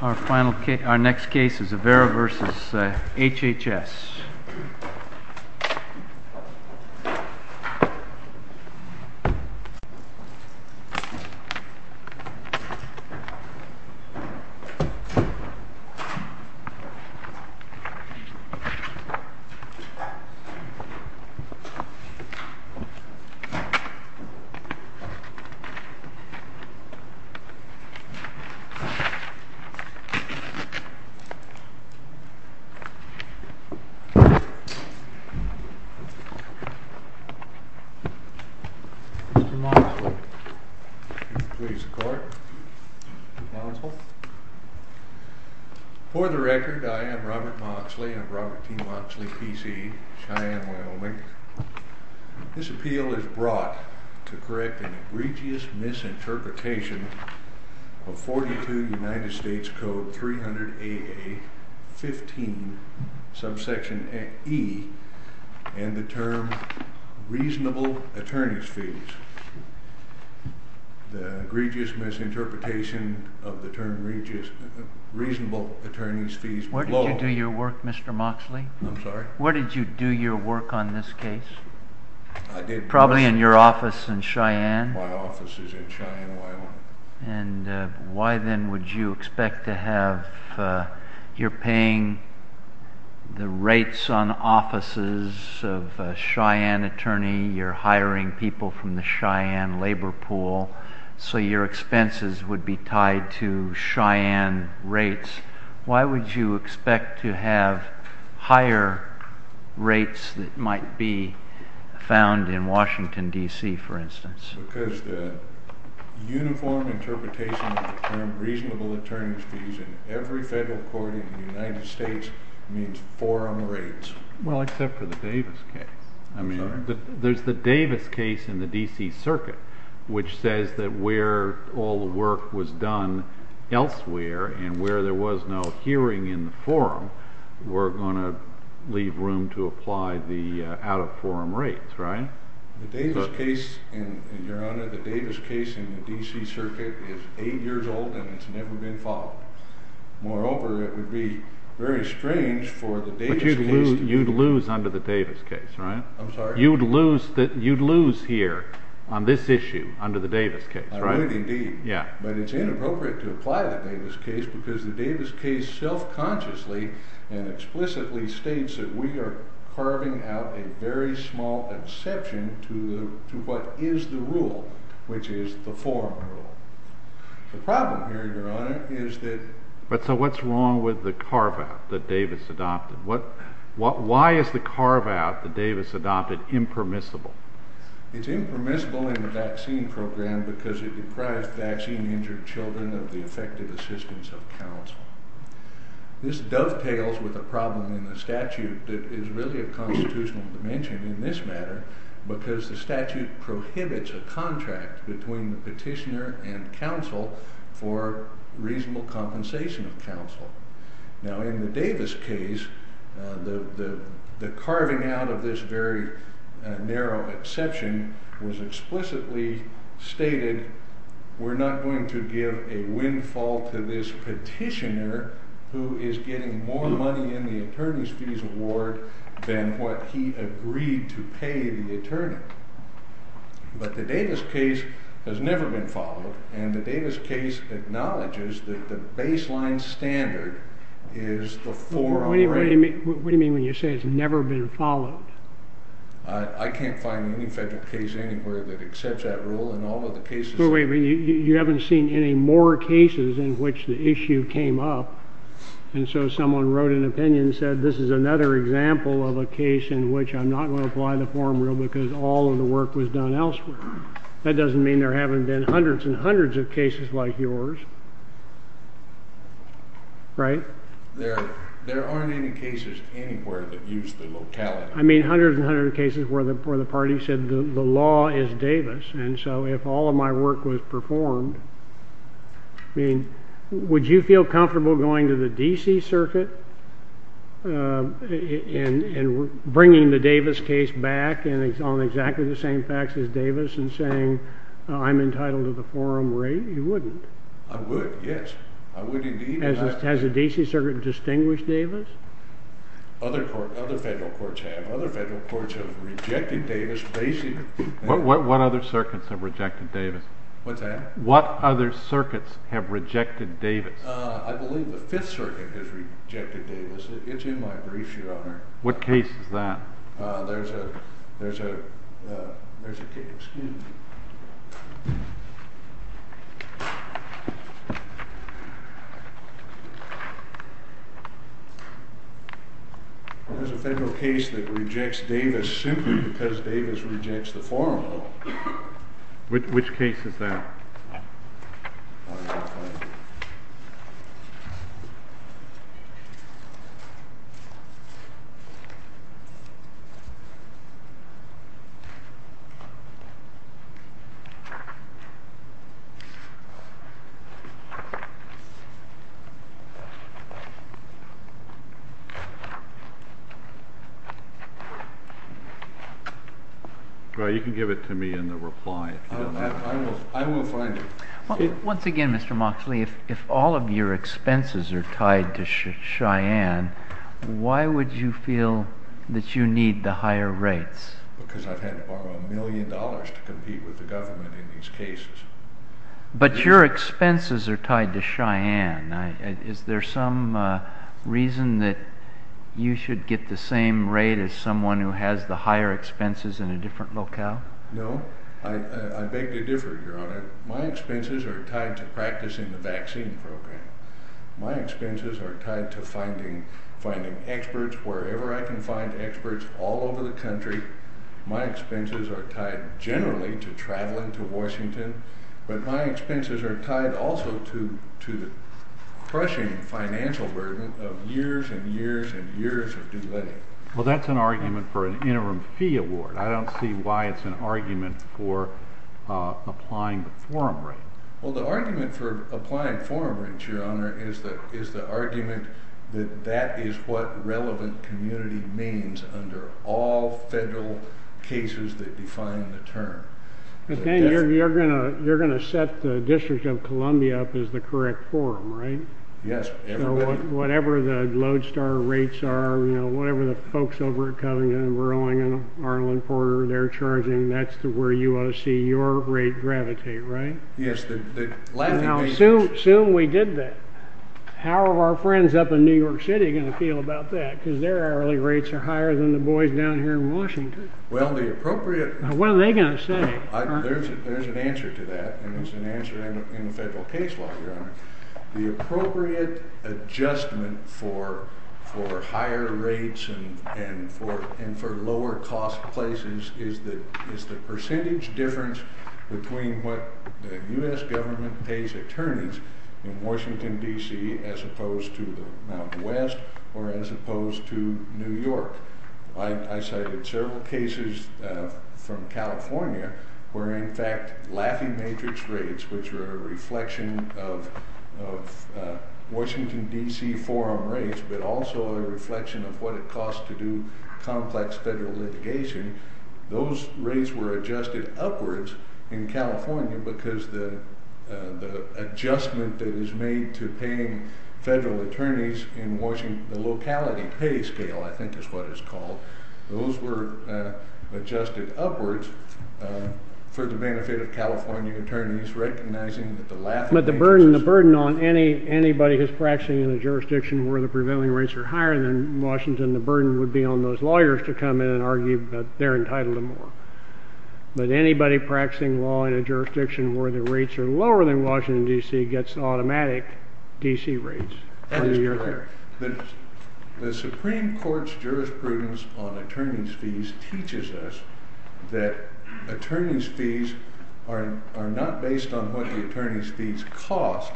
Our next case is Avera v. HHS. For the record, I am Robert Moxley of Robert T. Moxley, P.C., Cheyenne, Wyoming. This appeal is brought to correct an egregious misinterpretation of 42 U.S. Code 300-AA-15, subsection E, and the term, reasonable attorney's fees. The egregious misinterpretation of the term reasonable attorney's fees was low. Where did you do your work, Mr. Moxley? I'm sorry? Where did you do your work on this case? Probably in your office in Cheyenne. My office is in Cheyenne, Wyoming. And why then would you expect to have... You're paying the rates on offices of a Cheyenne attorney. You're hiring people from the Cheyenne labor pool, so your expenses would be tied to Cheyenne rates. Why would you expect to have higher rates that might be found in Washington, D.C., for instance? Because the uniform interpretation of the term reasonable attorney's fees in every federal court in the United States means four on the rates. Well, except for the Davis case. I'm sorry? There's the Davis case in the D.C. Circuit, which says that where all the work was done elsewhere and where there was no hearing in the forum, we're going to leave room to apply the out-of-forum rates, right? The Davis case, Your Honor, the Davis case in the D.C. Circuit is eight years old and it's never been followed. Moreover, it would be very strange for the Davis case... But you'd lose under the Davis case, right? I'm sorry? You'd lose here on this issue under the Davis case, right? I would indeed. Yeah. But it's inappropriate to apply the Davis case because the Davis case self-consciously and explicitly states that we are carving out a very small exception to what is the rule, which is the forum rule. The problem here, Your Honor, is that... So what's wrong with the carve-out that Davis adopted? Why is the carve-out that Davis adopted impermissible? It's impermissible in the vaccine program because it deprives vaccine-injured children of the effective assistance of counsel. This dovetails with a problem in the statute that is really a constitutional dimension in this matter because the statute prohibits a contract between the petitioner and counsel for reasonable compensation of counsel. Now, in the Davis case, the carving out of this very narrow exception was explicitly stated, we're not going to give a windfall to this petitioner who is getting more money in the attorney's fees award than what he agreed to pay the attorney. But the Davis case has never been followed, and the Davis case acknowledges that the baseline standard is the forum rule. What do you mean when you say it's never been followed? I can't find any federal case anywhere that accepts that rule, and all of the cases... That doesn't mean there haven't been hundreds and hundreds of cases like yours, right? There aren't any cases anywhere that use the locality. I mean, hundreds and hundreds of cases where the party said the law is Davis, and so if all of my work was performed, I mean, would you feel comfortable going to the D.C. Circuit and bringing the Davis case back on exactly the same facts as Davis and saying I'm entitled to the forum rate? You wouldn't. I would, yes. I would indeed. Has the D.C. Circuit distinguished Davis? Other federal courts have. Other federal courts have rejected Davis basically. What other circuits have rejected Davis? What's that? What other circuits have rejected Davis? I believe the Fifth Circuit has rejected Davis. It's in my brief, Your Honor. What case is that? There's a case that rejects Davis simply because Davis rejects the forum rule. Which case is that? Well, you can give it to me in the reply. I will find it. Once again, Mr. Moxley, if all of your expenses are tied to Cheyenne, why would you feel that you need the higher rates? Because I've had to borrow a million dollars to compete with the government in these cases. But your expenses are tied to Cheyenne. Is there some reason that you should get the same rate as someone who has the higher expenses in a different locale? No. I beg to differ, Your Honor. My expenses are tied to practicing the vaccine program. My expenses are tied to finding experts wherever I can find experts all over the country. My expenses are tied generally to traveling to Washington. But my expenses are tied also to the crushing financial burden of years and years and years of delay. Well, that's an argument for an interim fee award. I don't see why it's an argument for applying the forum rate. Well, the argument for applying forum rates, Your Honor, is the argument that that is what relevant community means under all federal cases that define the term. You're going to set the District of Columbia up as the correct forum, right? Yes. So whatever the lodestar rates are, whatever the folks over at Covington and Burling and Arlen Porter, they're charging, that's where you ought to see your rate gravitate, right? Yes. Now, assume we did that. How are our friends up in New York City going to feel about that? Because their hourly rates are higher than the boys down here in Washington. Well, the appropriate— What are they going to say? There's an answer to that, and there's an answer in the federal case law, Your Honor. The appropriate adjustment for higher rates and for lower-cost places is the percentage difference between what the U.S. government pays attorneys in Washington, D.C., as opposed to the Mount West, or as opposed to New York. I cited several cases from California where, in fact, laughing matrix rates, which were a reflection of Washington, D.C., forum rates, but also a reflection of what it costs to do complex federal litigation, those rates were adjusted upwards in California because the adjustment that is made to paying federal attorneys in Washington, the locality pay scale, I think is what it's called, those were adjusted upwards for the benefit of California attorneys, recognizing that the laughing matrix is— The burden would be on those lawyers to come in and argue that they're entitled to more. But anybody practicing law in a jurisdiction where the rates are lower than Washington, D.C., gets automatic D.C. rates. That is correct. The Supreme Court's jurisprudence on attorney's fees teaches us that attorney's fees are not based on what the attorney's fees cost,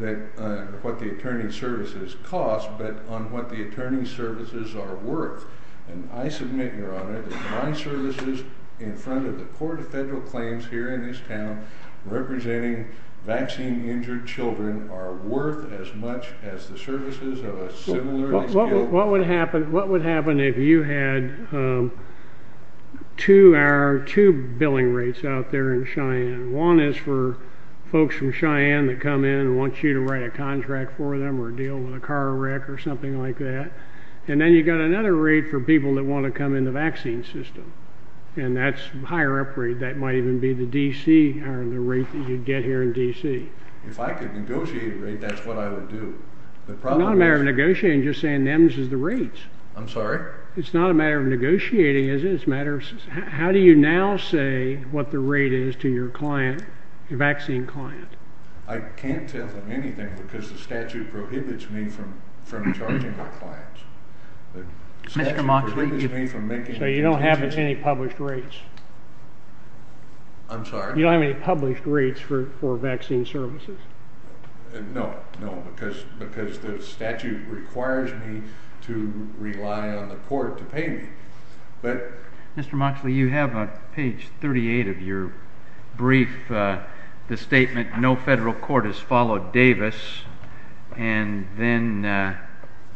what the attorney's services cost, but on what the attorney's services are worth. And I submit, Your Honor, that my services in front of the Court of Federal Claims here in this town representing vaccine-injured children are worth as much as the services of a civil lawyer— What would happen if you had two billing rates out there in Cheyenne? One is for folks from Cheyenne that come in and want you to write a contract for them or deal with a car wreck or something like that. And then you've got another rate for people that want to come in the vaccine system. And that's a higher up rate. That might even be the D.C. or the rate that you'd get here in D.C. If I could negotiate a rate, that's what I would do. It's not a matter of negotiating. Just saying them is the rates. I'm sorry? It's not a matter of negotiating, is it? How do you now say what the rate is to your client, your vaccine client? I can't tell them anything because the statute prohibits me from charging my clients. So you don't have any published rates? I'm sorry? You don't have any published rates for vaccine services? No, because the statute requires me to rely on the court to pay me. Mr. Moxley, you have on page 38 of your brief the statement, no federal court has followed Davis, and then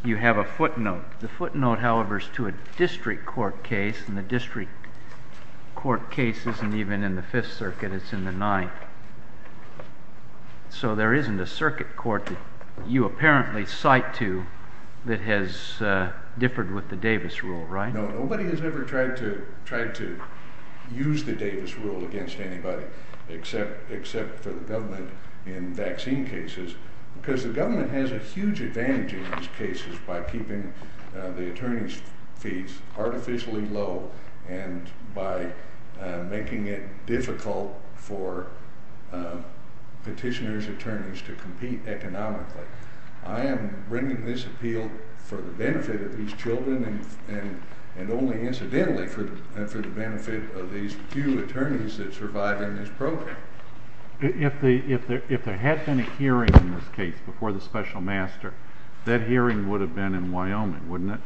you have a footnote. The footnote, however, is to a district court case, and the district court case isn't even in the Fifth Circuit. It's in the Ninth. So there isn't a circuit court that you apparently cite to that has differed with the Davis rule, right? No, nobody has ever tried to use the Davis rule against anybody except for the government in vaccine cases because the government has a huge advantage in these cases by keeping the attorneys' fees artificially low and by making it difficult for petitioners' attorneys to compete economically. I am bringing this appeal for the benefit of these children and only incidentally for the benefit of these few attorneys that survive in this program. If there had been a hearing in this case before the special master, that hearing would have been in Wyoming, wouldn't it?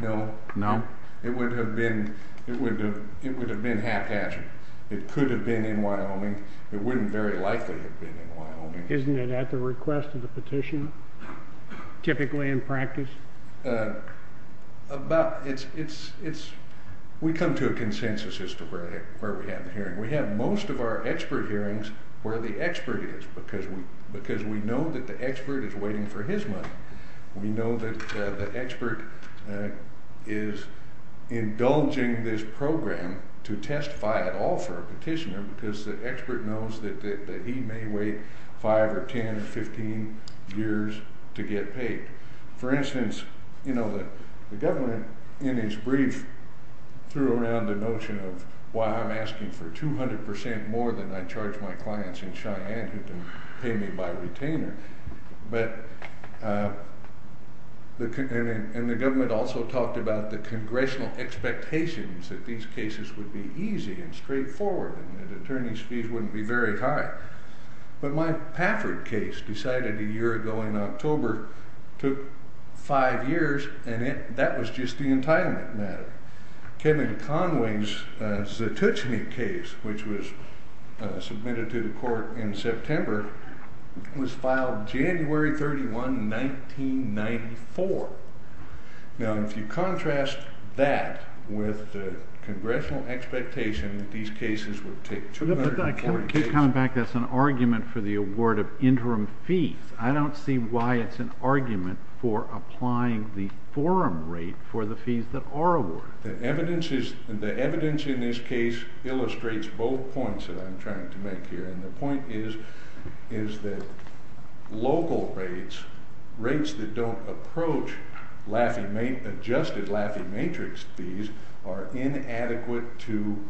No. No? It would have been haphazard. It could have been in Wyoming. It wouldn't very likely have been in Wyoming. Isn't it at the request of the petitioner, typically in practice? We come to a consensus where we have the hearing. We have most of our expert hearings where the expert is because we know that the expert is waiting for his money. We know that the expert is indulging this program to testify at all for a petitioner because the expert knows that he may wait 5 or 10 or 15 years to get paid. For instance, the government in its brief threw around the notion of why I'm asking for 200 percent more than I charge my clients in Cheyenne who can pay me by retainer. The government also talked about the congressional expectations that these cases would be easy and straightforward and that attorney's fees wouldn't be very high. But my Pafford case decided a year ago in October, took 5 years, and that was just the entitlement matter. Kevin Conway's Zatucheny case, which was submitted to the court in September, was filed January 31, 1994. Now, if you contrast that with the congressional expectation that these cases would take 240 days... I keep coming back to this argument for the award of interim fees. I don't see why it's an argument for applying the forum rate for the fees that are awarded. The evidence in this case illustrates both points that I'm trying to make here. The point is that local rates, rates that don't approach adjusted Laffey Matrix fees, are inadequate to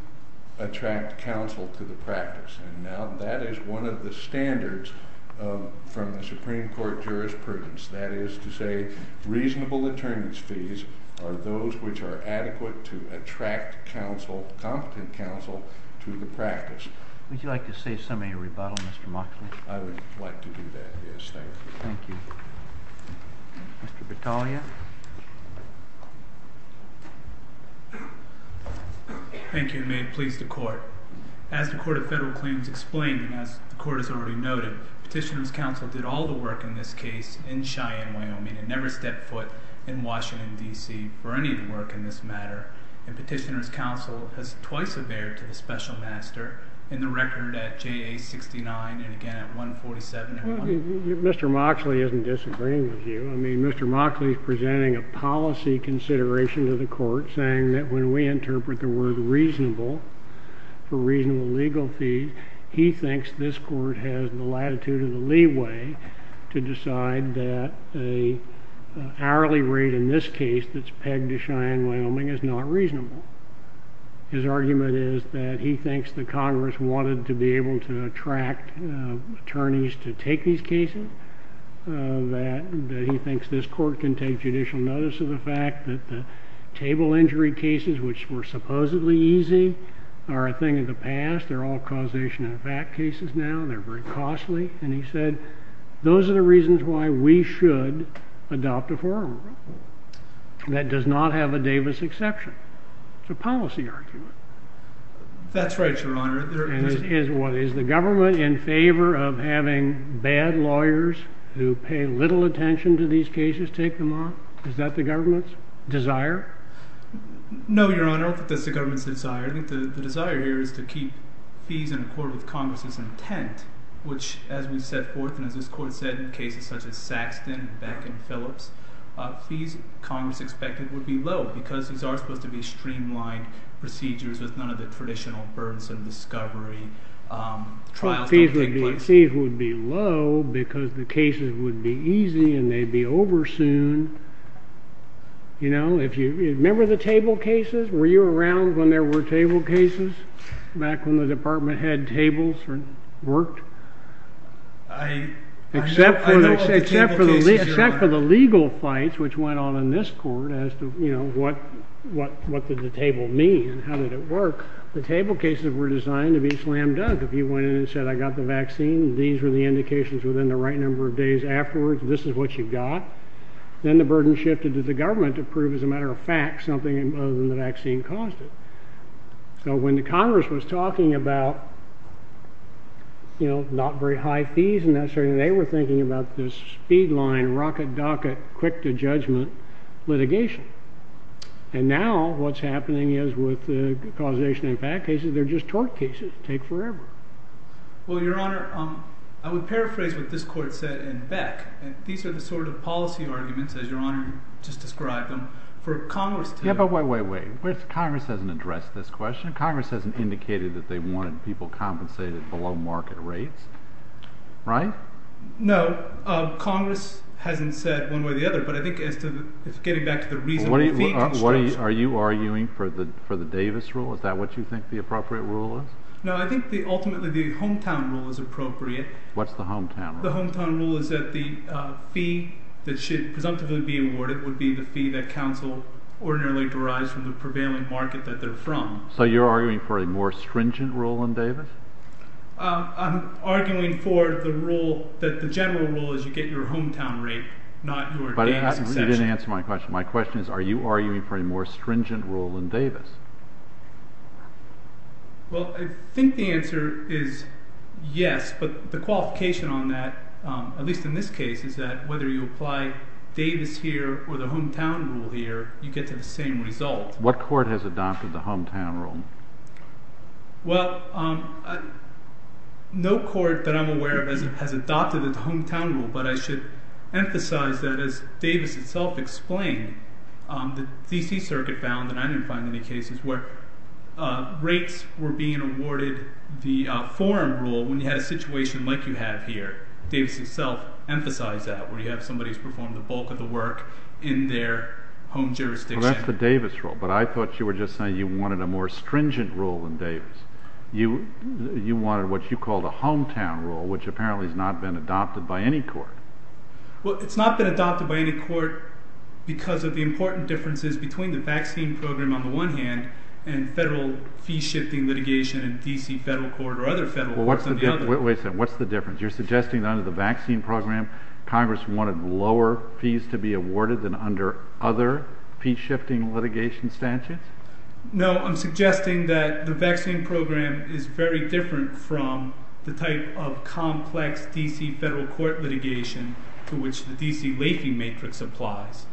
attract counsel to the practice. Now, that is one of the standards from the Supreme Court jurisprudence. That is to say, reasonable attorney's fees are those which are adequate to attract competent counsel to the practice. Would you like to say something to rebuttal, Mr. Moxley? I would like to do that, yes. Thank you. Thank you. Mr. Battaglia? Thank you, and may it please the Court. As the Court of Federal Claims explained, and as the Court has already noted, Petitioner's Counsel did all the work in this case in Cheyenne, Wyoming, and never stepped foot in Washington, D.C., for any of the work in this matter. And Petitioner's Counsel has twice averred to the special master, in the record at JA-69, and again at 147. Mr. Moxley isn't disagreeing with you. I mean, Mr. Moxley is presenting a policy consideration to the Court, saying that when we interpret the word reasonable for reasonable legal fees, he thinks this Court has the latitude and the leeway to decide that an hourly rate, in this case that's pegged to Cheyenne, Wyoming, is not reasonable. His argument is that he thinks that Congress wanted to be able to attract attorneys to take these cases, that he thinks this Court can take judicial notice of the fact that the table injury cases, which were supposedly easy, are a thing of the past. They're all causation-of-fact cases now, and they're very costly. And he said, those are the reasons why we should adopt a forum rule that does not have a Davis exception. It's a policy argument. That's right, Your Honor. And is the government in favor of having bad lawyers who pay little attention to these cases take them on? Is that the government's desire? No, Your Honor, I don't think that's the government's desire. I think the desire here is to keep fees in accord with Congress's intent, which, as we set forth and as this Court said, in cases such as Saxton, Beck, and Phillips, fees Congress expected would be low because these are supposed to be streamlined procedures with none of the traditional burdensome discovery. Trials don't take place. Fees would be low because the cases would be easy and they'd be over soon. Remember the table cases? Were you around when there were table cases, back when the department had tables or worked? I know of the table cases, Your Honor. Except for the legal fights which went on in this Court as to what did the table mean and how did it work, the table cases were designed to be slam-dunk. If you went in and said, I got the vaccine, these were the indications within the right number of days afterwards, this is what you got, then the burden shifted to the government to prove, as a matter of fact, something other than the vaccine caused it. So when the Congress was talking about, you know, not very high fees and that sort of thing, they were thinking about this speed line, rocket docket, quick to judgment litigation. And now what's happening is with the causation impact cases, they're just tort cases, take forever. Well, Your Honor, I would paraphrase what this Court said in Beck. These are the sort of policy arguments, as Your Honor just described them, for Congress to... Yeah, but wait, wait, wait. Congress hasn't addressed this question. Congress hasn't indicated that they wanted people compensated below market rates, right? No. Congress hasn't said one way or the other, but I think as to getting back to the reasonable fee constraints... Are you arguing for the Davis rule? Is that what you think the appropriate rule is? No, I think ultimately the hometown rule is appropriate. What's the hometown rule? The hometown rule is that the fee that should presumptively be awarded would be the fee that counsel ordinarily derives from the prevailing market that they're from. So you're arguing for a more stringent rule in Davis? I'm arguing for the rule that the general rule is you get your hometown rate, not your dam succession. But you didn't answer my question. My question is are you arguing for a more stringent rule in Davis? Well, I think the answer is yes, but the qualification on that, at least in this case, is that whether you apply Davis here or the hometown rule here, you get to the same result. What court has adopted the hometown rule? Well, no court that I'm aware of has adopted the hometown rule, but I should emphasize that as Davis itself explained, the D.C. Circuit found, and I didn't find any cases, where rates were being awarded the forum rule when you had a situation like you have here. Davis itself emphasized that, where you have somebody who's performed the bulk of the work in their home jurisdiction. Well, that's the Davis rule, but I thought you were just saying you wanted a more stringent rule in Davis. You wanted what you called a hometown rule, which apparently has not been adopted by any court. Well, it's not been adopted by any court because of the important differences between the vaccine program on the one hand and federal fee-shifting litigation in D.C. federal court or other federal courts on the other. Wait a second. What's the difference? You're suggesting that under the vaccine program, Congress wanted lower fees to be awarded than under other fee-shifting litigation statutes? No, I'm suggesting that the vaccine program is very different from the type of complex D.C. federal court litigation to which the D.C. Laking matrix applies.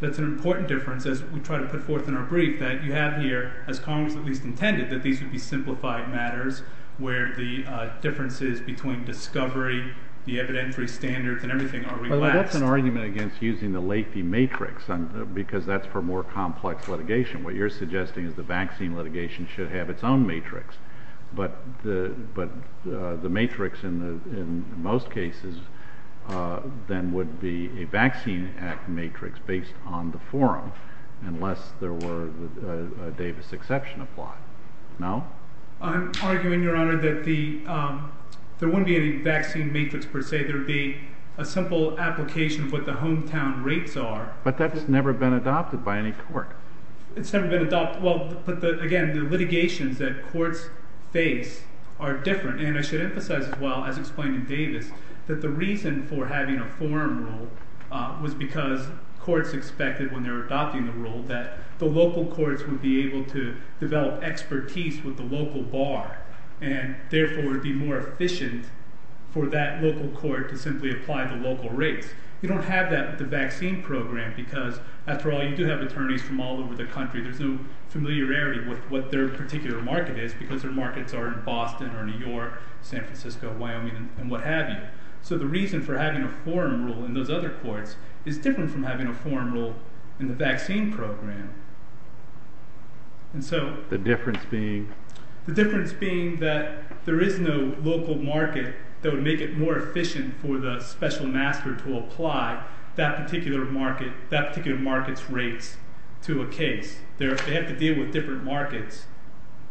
That's an important difference, as we try to put forth in our brief, that you have here, as Congress at least intended, that these would be simplified matters where the differences between discovery, the evidentiary standards, and everything are relaxed. That's an argument against using the Laking matrix because that's for more complex litigation. What you're suggesting is the vaccine litigation should have its own matrix, but the matrix in most cases then would be a vaccine act matrix based on the forum unless there were a Davis exception applied. No? I'm arguing, Your Honor, that there wouldn't be any vaccine matrix per se. There would be a simple application of what the hometown rates are. But that's never been adopted by any court. It's never been adopted. But again, the litigations that courts face are different. And I should emphasize as well, as explained in Davis, that the reason for having a forum rule was because courts expected when they were adopting the rule that the local courts would be able to develop expertise with the local bar and therefore be more efficient for that local court to simply apply the local rates. You don't have that with the vaccine program because, after all, you do have attorneys from all over the country. There's no familiarity with what their particular market is because their markets are in Boston or New York, San Francisco, Wyoming, and what have you. So the reason for having a forum rule in those other courts is different from having a forum rule in the vaccine program. And so... The difference being? The difference being that there is no local market that would make it more efficient for the special master to apply that particular market's rates to a case. They have to deal with different markets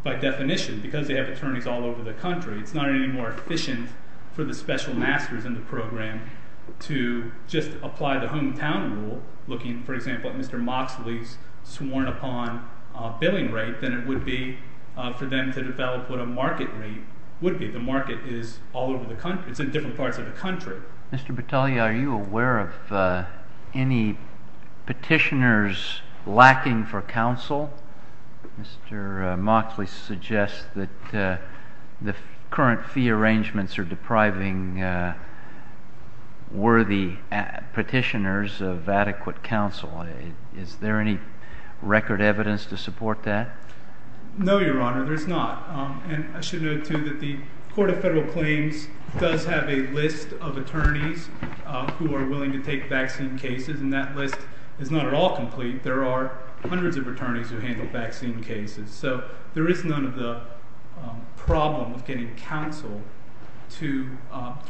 by definition because they have attorneys all over the country. It's not any more efficient for the special masters in the program to just apply the hometown rule, looking, for example, at Mr. Moxley's sworn-upon billing rate than it would be for them to develop what a market rate would be. The market is all over the country. It's in different parts of the country. Mr. Battaglia, are you aware of any petitioners lacking for counsel? Mr. Moxley suggests that the current fee arrangements are depriving worthy petitioners of adequate counsel. Is there any record evidence to support that? No, Your Honor, there's not. And I should note, too, that the Court of Federal Claims does have a list of attorneys who are willing to take vaccine cases, and that list is not at all complete. There are hundreds of attorneys who handle vaccine cases. So there is none of the problem of getting counsel to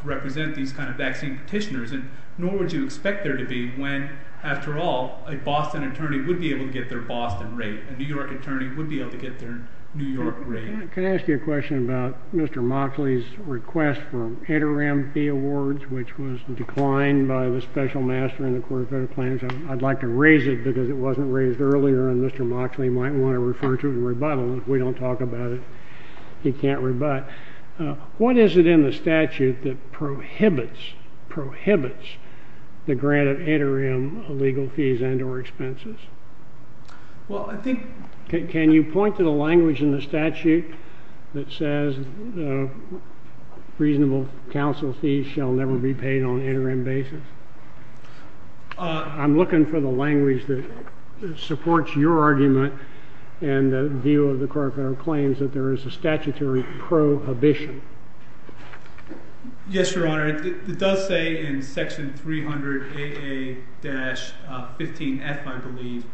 represent these kind of vaccine petitioners, nor would you expect there to be when, after all, a Boston attorney would be able to get their Boston rate, a New York attorney would be able to get their New York rate. Can I ask you a question about Mr. Moxley's request for an interim fee awards, which was declined by the special master in the Court of Federal Claims? I'd like to raise it because it wasn't raised earlier, and Mr. Moxley might want to refer to it in rebuttal, and if we don't talk about it, he can't rebut. What is it in the statute that prohibits, prohibits, the grant of interim legal fees and or expenses? Well, I think— Can you point to the language in the statute that says reasonable counsel fees shall never be paid on interim basis? I'm looking for the language that supports your argument and the view of the Court of Federal Claims that there is a statutory prohibition. Yes, Your Honor. It does say in section 300 AA-15F, I believe,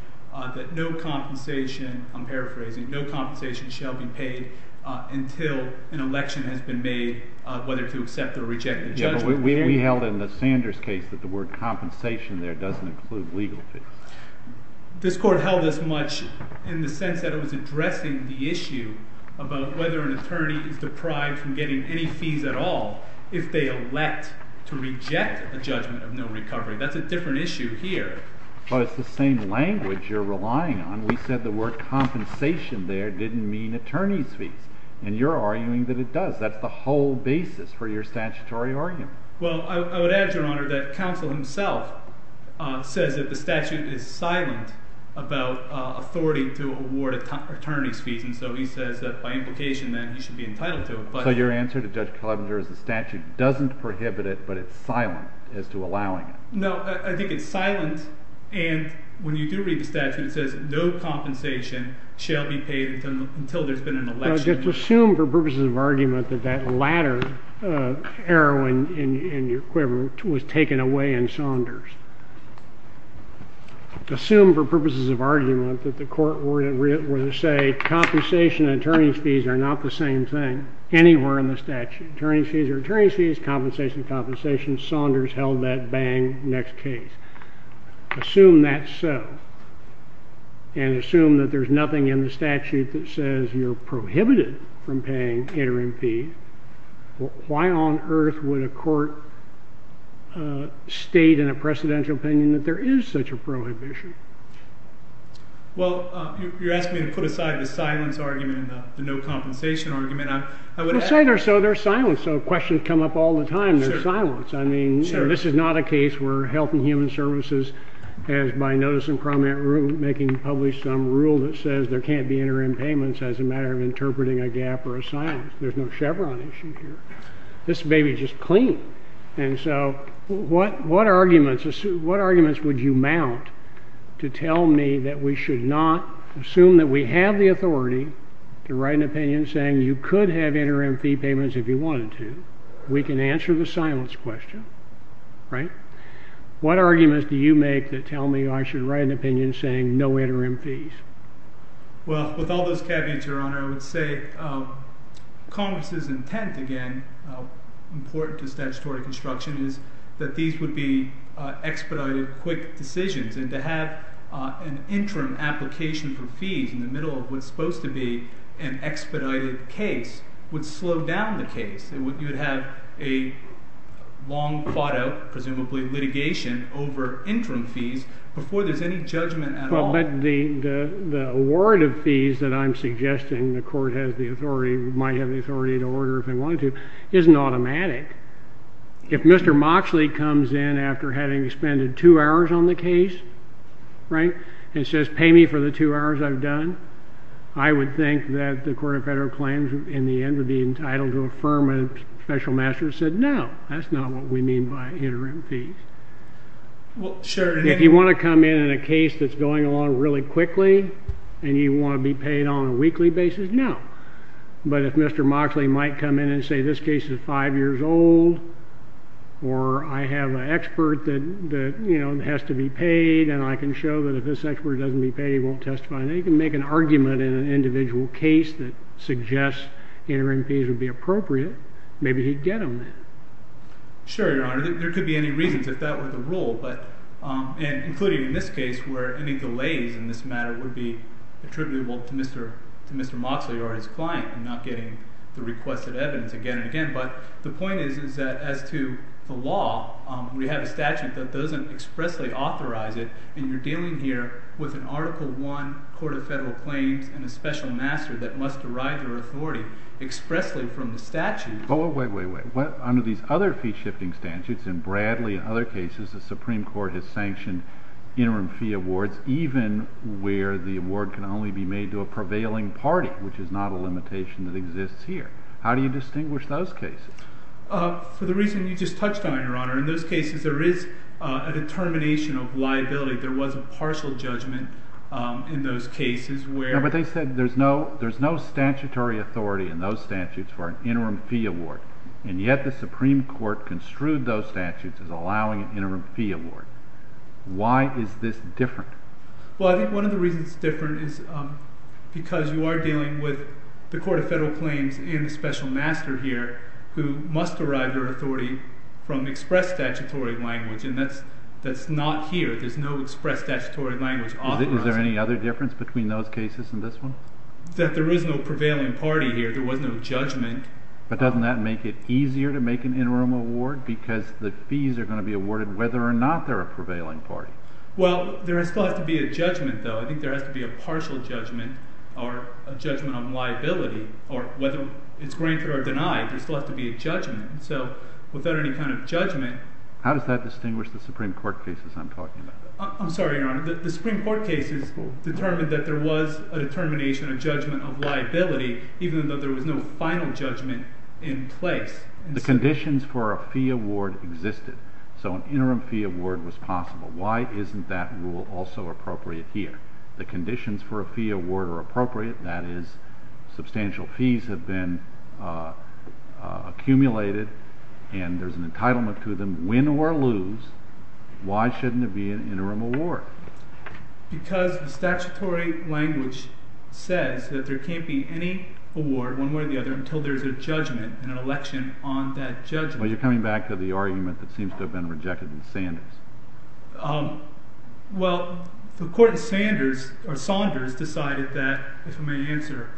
that no compensation—I'm paraphrasing— no compensation shall be paid until an election has been made whether to accept or reject the judgment. We held in the Sanders case that the word compensation there doesn't include legal fees. This Court held this much in the sense that it was addressing the issue about whether an attorney is deprived from getting any fees at all if they elect to reject a judgment of no recovery. That's a different issue here. But it's the same language you're relying on. We said the word compensation there didn't mean attorney's fees, and you're arguing that it does. That's the whole basis for your statutory argument. Well, I would add, Your Honor, that counsel himself says that the statute is silent about authority to award attorney's fees, and so he says that by implication that he should be entitled to it. So your answer to Judge Clevenger is the statute doesn't prohibit it, but it's silent as to allowing it. No, I think it's silent. And when you do read the statute, it says no compensation shall be paid until there's been an election. No, just assume for purposes of argument that that latter arrow in your quiver was taken away in Saunders. Assume for purposes of argument that the court were to say compensation and attorney's fees are not the same thing anywhere in the statute. Attorney's fees are attorney's fees, compensation is compensation. Saunders held that bang, next case. Assume that's so, and assume that there's nothing in the statute that says you're prohibited from paying interim fees. Why on earth would a court state in a precedential opinion that there is such a prohibition? Well, you're asking me to put aside the silence argument and the no compensation argument. Well, say they're silent, so questions come up all the time. They're silenced. I mean, this is not a case where Health and Human Services has, by notice in prominent rulemaking, published some rule that says there can't be interim payments as a matter of interpreting a gap or a silence. There's no Chevron issue here. This may be just clean. And so what arguments would you mount to tell me that we should not assume that we have the authority to write an opinion saying you could have interim fee payments if you wanted to? We can answer the silence question, right? What arguments do you make that tell me I should write an opinion saying no interim fees? Well, with all those caveats, Your Honor, I would say Congress's intent, again, important to statutory construction, is that these would be expedited quick decisions. And to have an interim application for fees in the middle of what's supposed to be an expedited case would slow down the case. You would have a long, fought out, presumably, litigation over interim fees before there's any judgment at all. Well, but the award of fees that I'm suggesting the court has the authority, might have the authority to order if they wanted to, isn't automatic. If Mr. Moxley comes in after having expended two hours on the case, right, and says, pay me for the two hours I've done, I would think that the Court of Federal Claims, in the end, would be entitled to affirm when a special master said, no, that's not what we mean by interim fees. Well, sure. If you want to come in on a case that's going along really quickly and you want to be paid on a weekly basis, no. But if Mr. Moxley might come in and say this case is five years old or I have an expert that has to be paid and I can show that if this expert doesn't be paid he won't testify, then he can make an argument in an individual case that suggests interim fees would be appropriate. Maybe he'd get them then. Sure, Your Honor. There could be any reasons if that were the rule, including in this case where any delays in this matter would be attributable to Mr. Moxley or his client and not getting the requested evidence again and again. But the point is that as to the law, we have a statute that doesn't expressly authorize it, and you're dealing here with an Article I Court of Federal Claims and a special master that must derive their authority expressly from the statute. Wait, wait, wait. Under these other fee-shifting statutes, in Bradley and other cases, the Supreme Court has sanctioned interim fee awards even where the award can only be made to a prevailing party, which is not a limitation that exists here. How do you distinguish those cases? For the reason you just touched on, Your Honor, in those cases there is a determination of liability. There was a partial judgment in those cases where... But they said there's no statutory authority in those statutes for an interim fee award, and yet the Supreme Court construed those statutes as allowing an interim fee award. Why is this different? Well, I think one of the reasons it's different is because you are dealing with the Court of Federal Claims and a special master here who must derive their authority from express statutory language, and that's not here. There's no express statutory language authorizing it. Is there any other difference between those cases and this one? That there is no prevailing party here. There was no judgment. But doesn't that make it easier to make an interim award because the fees are going to be awarded whether or not they're a prevailing party? Well, there still has to be a judgment, though. I think there has to be a partial judgment or a judgment on liability, or whether it's granted or denied, there still has to be a judgment. So without any kind of judgment... How does that distinguish the Supreme Court cases I'm talking about? I'm sorry, Your Honor, the Supreme Court cases determined that there was a determination, a judgment of liability, even though there was no final judgment in place. The conditions for a fee award existed, so an interim fee award was possible. Why isn't that rule also appropriate here? The conditions for a fee award are appropriate. That is, substantial fees have been accumulated and there's an entitlement to them, win or lose. Why shouldn't there be an interim award? Because the statutory language says that there can't be any award one way or the other until there's a judgment and an election on that judgment. Well, you're coming back to the argument that seems to have been rejected in Sanders. Well, the court in Sanders, or Saunders, decided that, if I may answer,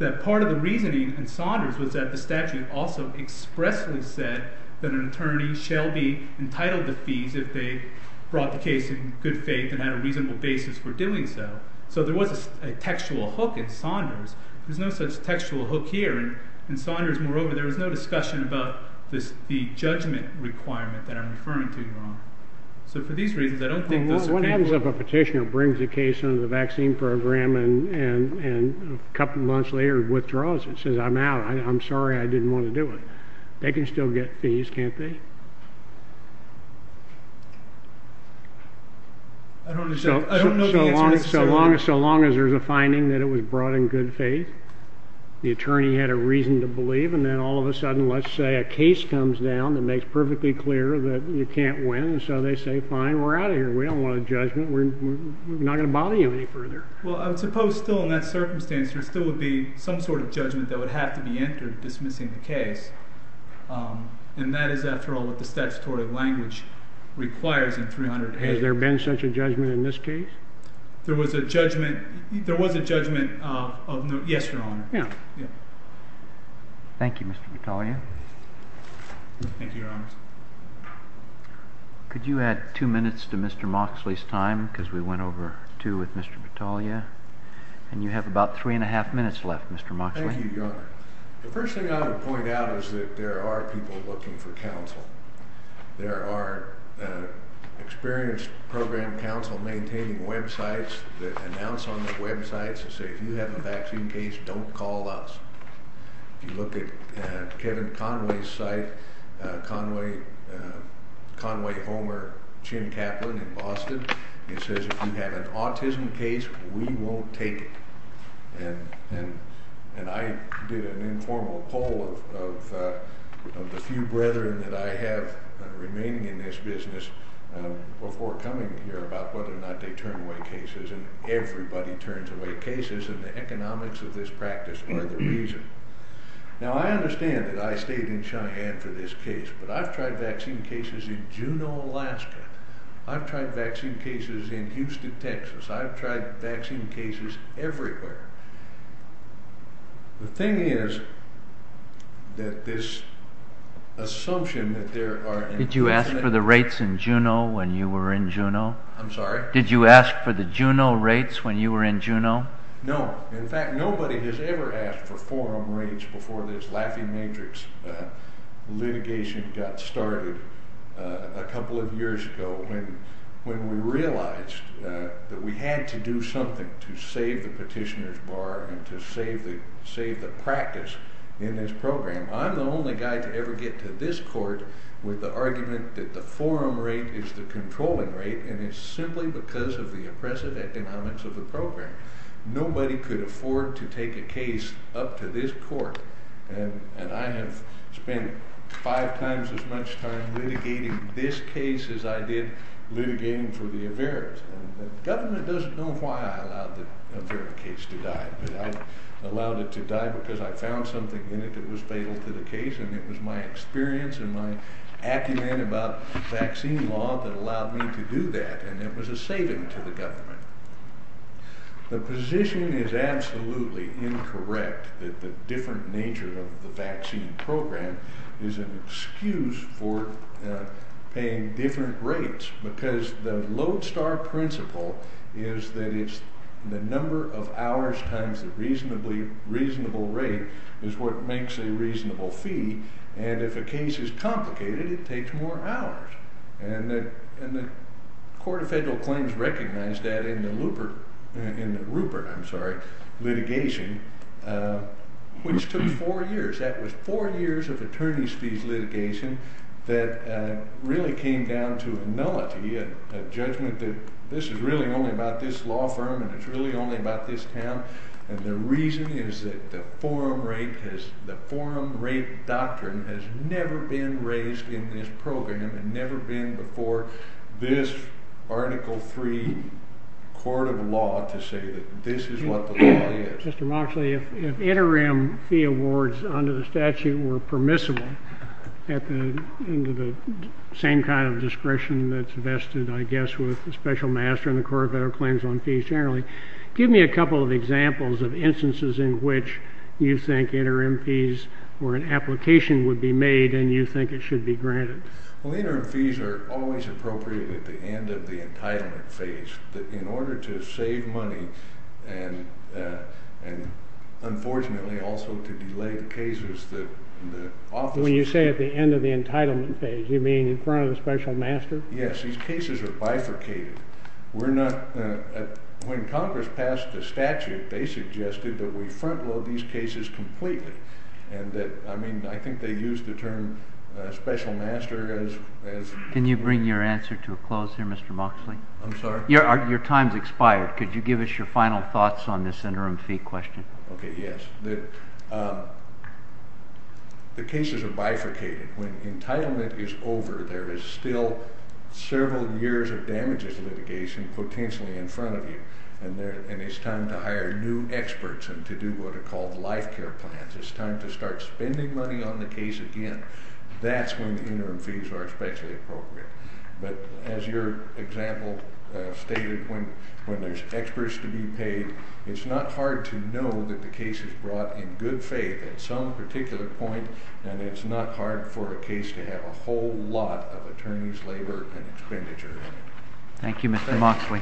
that part of the reasoning in Saunders was that the statute also expressly said that an attorney shall be entitled to fees if they brought the case in good faith and had a reasonable basis for doing so. So there was a textual hook in Saunders. There's no such textual hook here. In Saunders, moreover, there was no discussion about the judgment requirement that I'm referring to, Your Honor. So for these reasons, I don't think... What happens if a petitioner brings a case under the vaccine program and a couple months later withdraws and says, I'm out, I'm sorry, I didn't want to do it? They can still get fees, can't they? I don't know the answer necessarily. So long as there's a finding that it was brought in good faith, the attorney had a reason to believe, and then all of a sudden, let's say, a case comes down that makes perfectly clear that you can't win, and so they say, fine, we're out of here, we don't want a judgment, we're not going to bother you any further. Well, I would suppose still in that circumstance there still would be some sort of judgment that would have to be entered dismissing the case. And that is, after all, what the statutory language requires in 300A. Has there been such a judgment in this case? There was a judgment... There was a judgment of... Yes, Your Honor. Yeah. Thank you, Mr. Battaglia. Thank you, Your Honor. Could you add two minutes to Mr. Moxley's time? Because we went over two with Mr. Battaglia. And you have about three and a half minutes left, Mr. Moxley. Thank you, Your Honor. The first thing I would point out is that there are people looking for counsel. There are experienced program counsel maintaining websites that announce on the websites that say, if you have a vaccine case, don't call us. If you look at Kevin Conway's site, Conway, Conway, Homer, Jim Kaplan in Boston, it says, if you have an autism case, we won't take it. And I did an informal poll of the few brethren that I have remaining in this business before coming here about whether or not they turn away cases, and everybody turns away cases, and the economics of this practice are the reason. Now, I understand that I stayed in Cheyenne for this case, but I've tried vaccine cases in Juneau, Alaska. I've tried vaccine cases in Houston, Texas. I've tried vaccine cases everywhere. The thing is that this assumption that there are... Did you ask for the rates in Juneau when you were in Juneau? I'm sorry? Did you ask for the Juneau rates when you were in Juneau? No. In fact, nobody has ever asked for forum rates before this laughing matrix litigation got started a couple of years ago when we realized that we had to do something to save the petitioner's bar and to save the practice in this program. I'm the only guy to ever get to this court with the argument that the forum rate is the controlling rate, and it's simply because of the oppressive economics of the program. Nobody could afford to take a case up to this court, and I have spent five times as much time litigating this case as I did litigating for the Averitt. The government doesn't know why I allowed the Averitt case to die, but I allowed it to die because I found something in it that was fatal to the case, and it was my experience and my acumen about vaccine law that allowed me to do that, and it was a saving to the government. The position is absolutely incorrect that the different nature of the vaccine program is an excuse for paying different rates, because the Lodestar principle is that it's the number of hours times the reasonable rate is what makes a reasonable fee, and if a case is complicated, it takes more hours, and the Court of Federal Claims recognized that in the Rupert litigation, which took four years, that was four years of attorney's fees litigation that really came down to a nullity, a judgment that this is really only about this law firm, and it's really only about this town, and the reason is that the forum rate doctrine has never been raised in this program, and never been before this Article III Court of Law to say that this is what the law is. Mr. Moxley, if interim fee awards under the statute were permissible, into the same kind of discretion that's vested, I guess, with the special master in the Court of Federal Claims on fees generally, give me a couple of examples of instances in which you think interim fees or an application would be made and you think it should be granted. Well, interim fees are always appropriate at the end of the entitlement phase. In order to save money and unfortunately also to delay the cases that the officers... When you say at the end of the entitlement phase, you mean in front of the special master? Yes, these cases are bifurcated. We're not... When Congress passed the statute, they suggested that we front-load these cases completely, and that, I mean, I think they used the term special master as... Can you bring your answer to a close here, Mr. Moxley? I'm sorry? Your time's expired. Could you give us your final thoughts on this interim fee question? Okay, yes. The cases are bifurcated. When entitlement is over, there is still several years of damages litigation potentially in front of you, and it's time to hire new experts and to do what are called life care plans. It's time to start spending money on the case again. That's when the interim fees are especially appropriate. But as your example stated, when there's experts to be paid, it's not hard to know that the case is brought in good faith at some particular point, and it's not hard for a case to have a whole lot of attorney's labor and expenditure in it. Thank you, Mr. Moxley.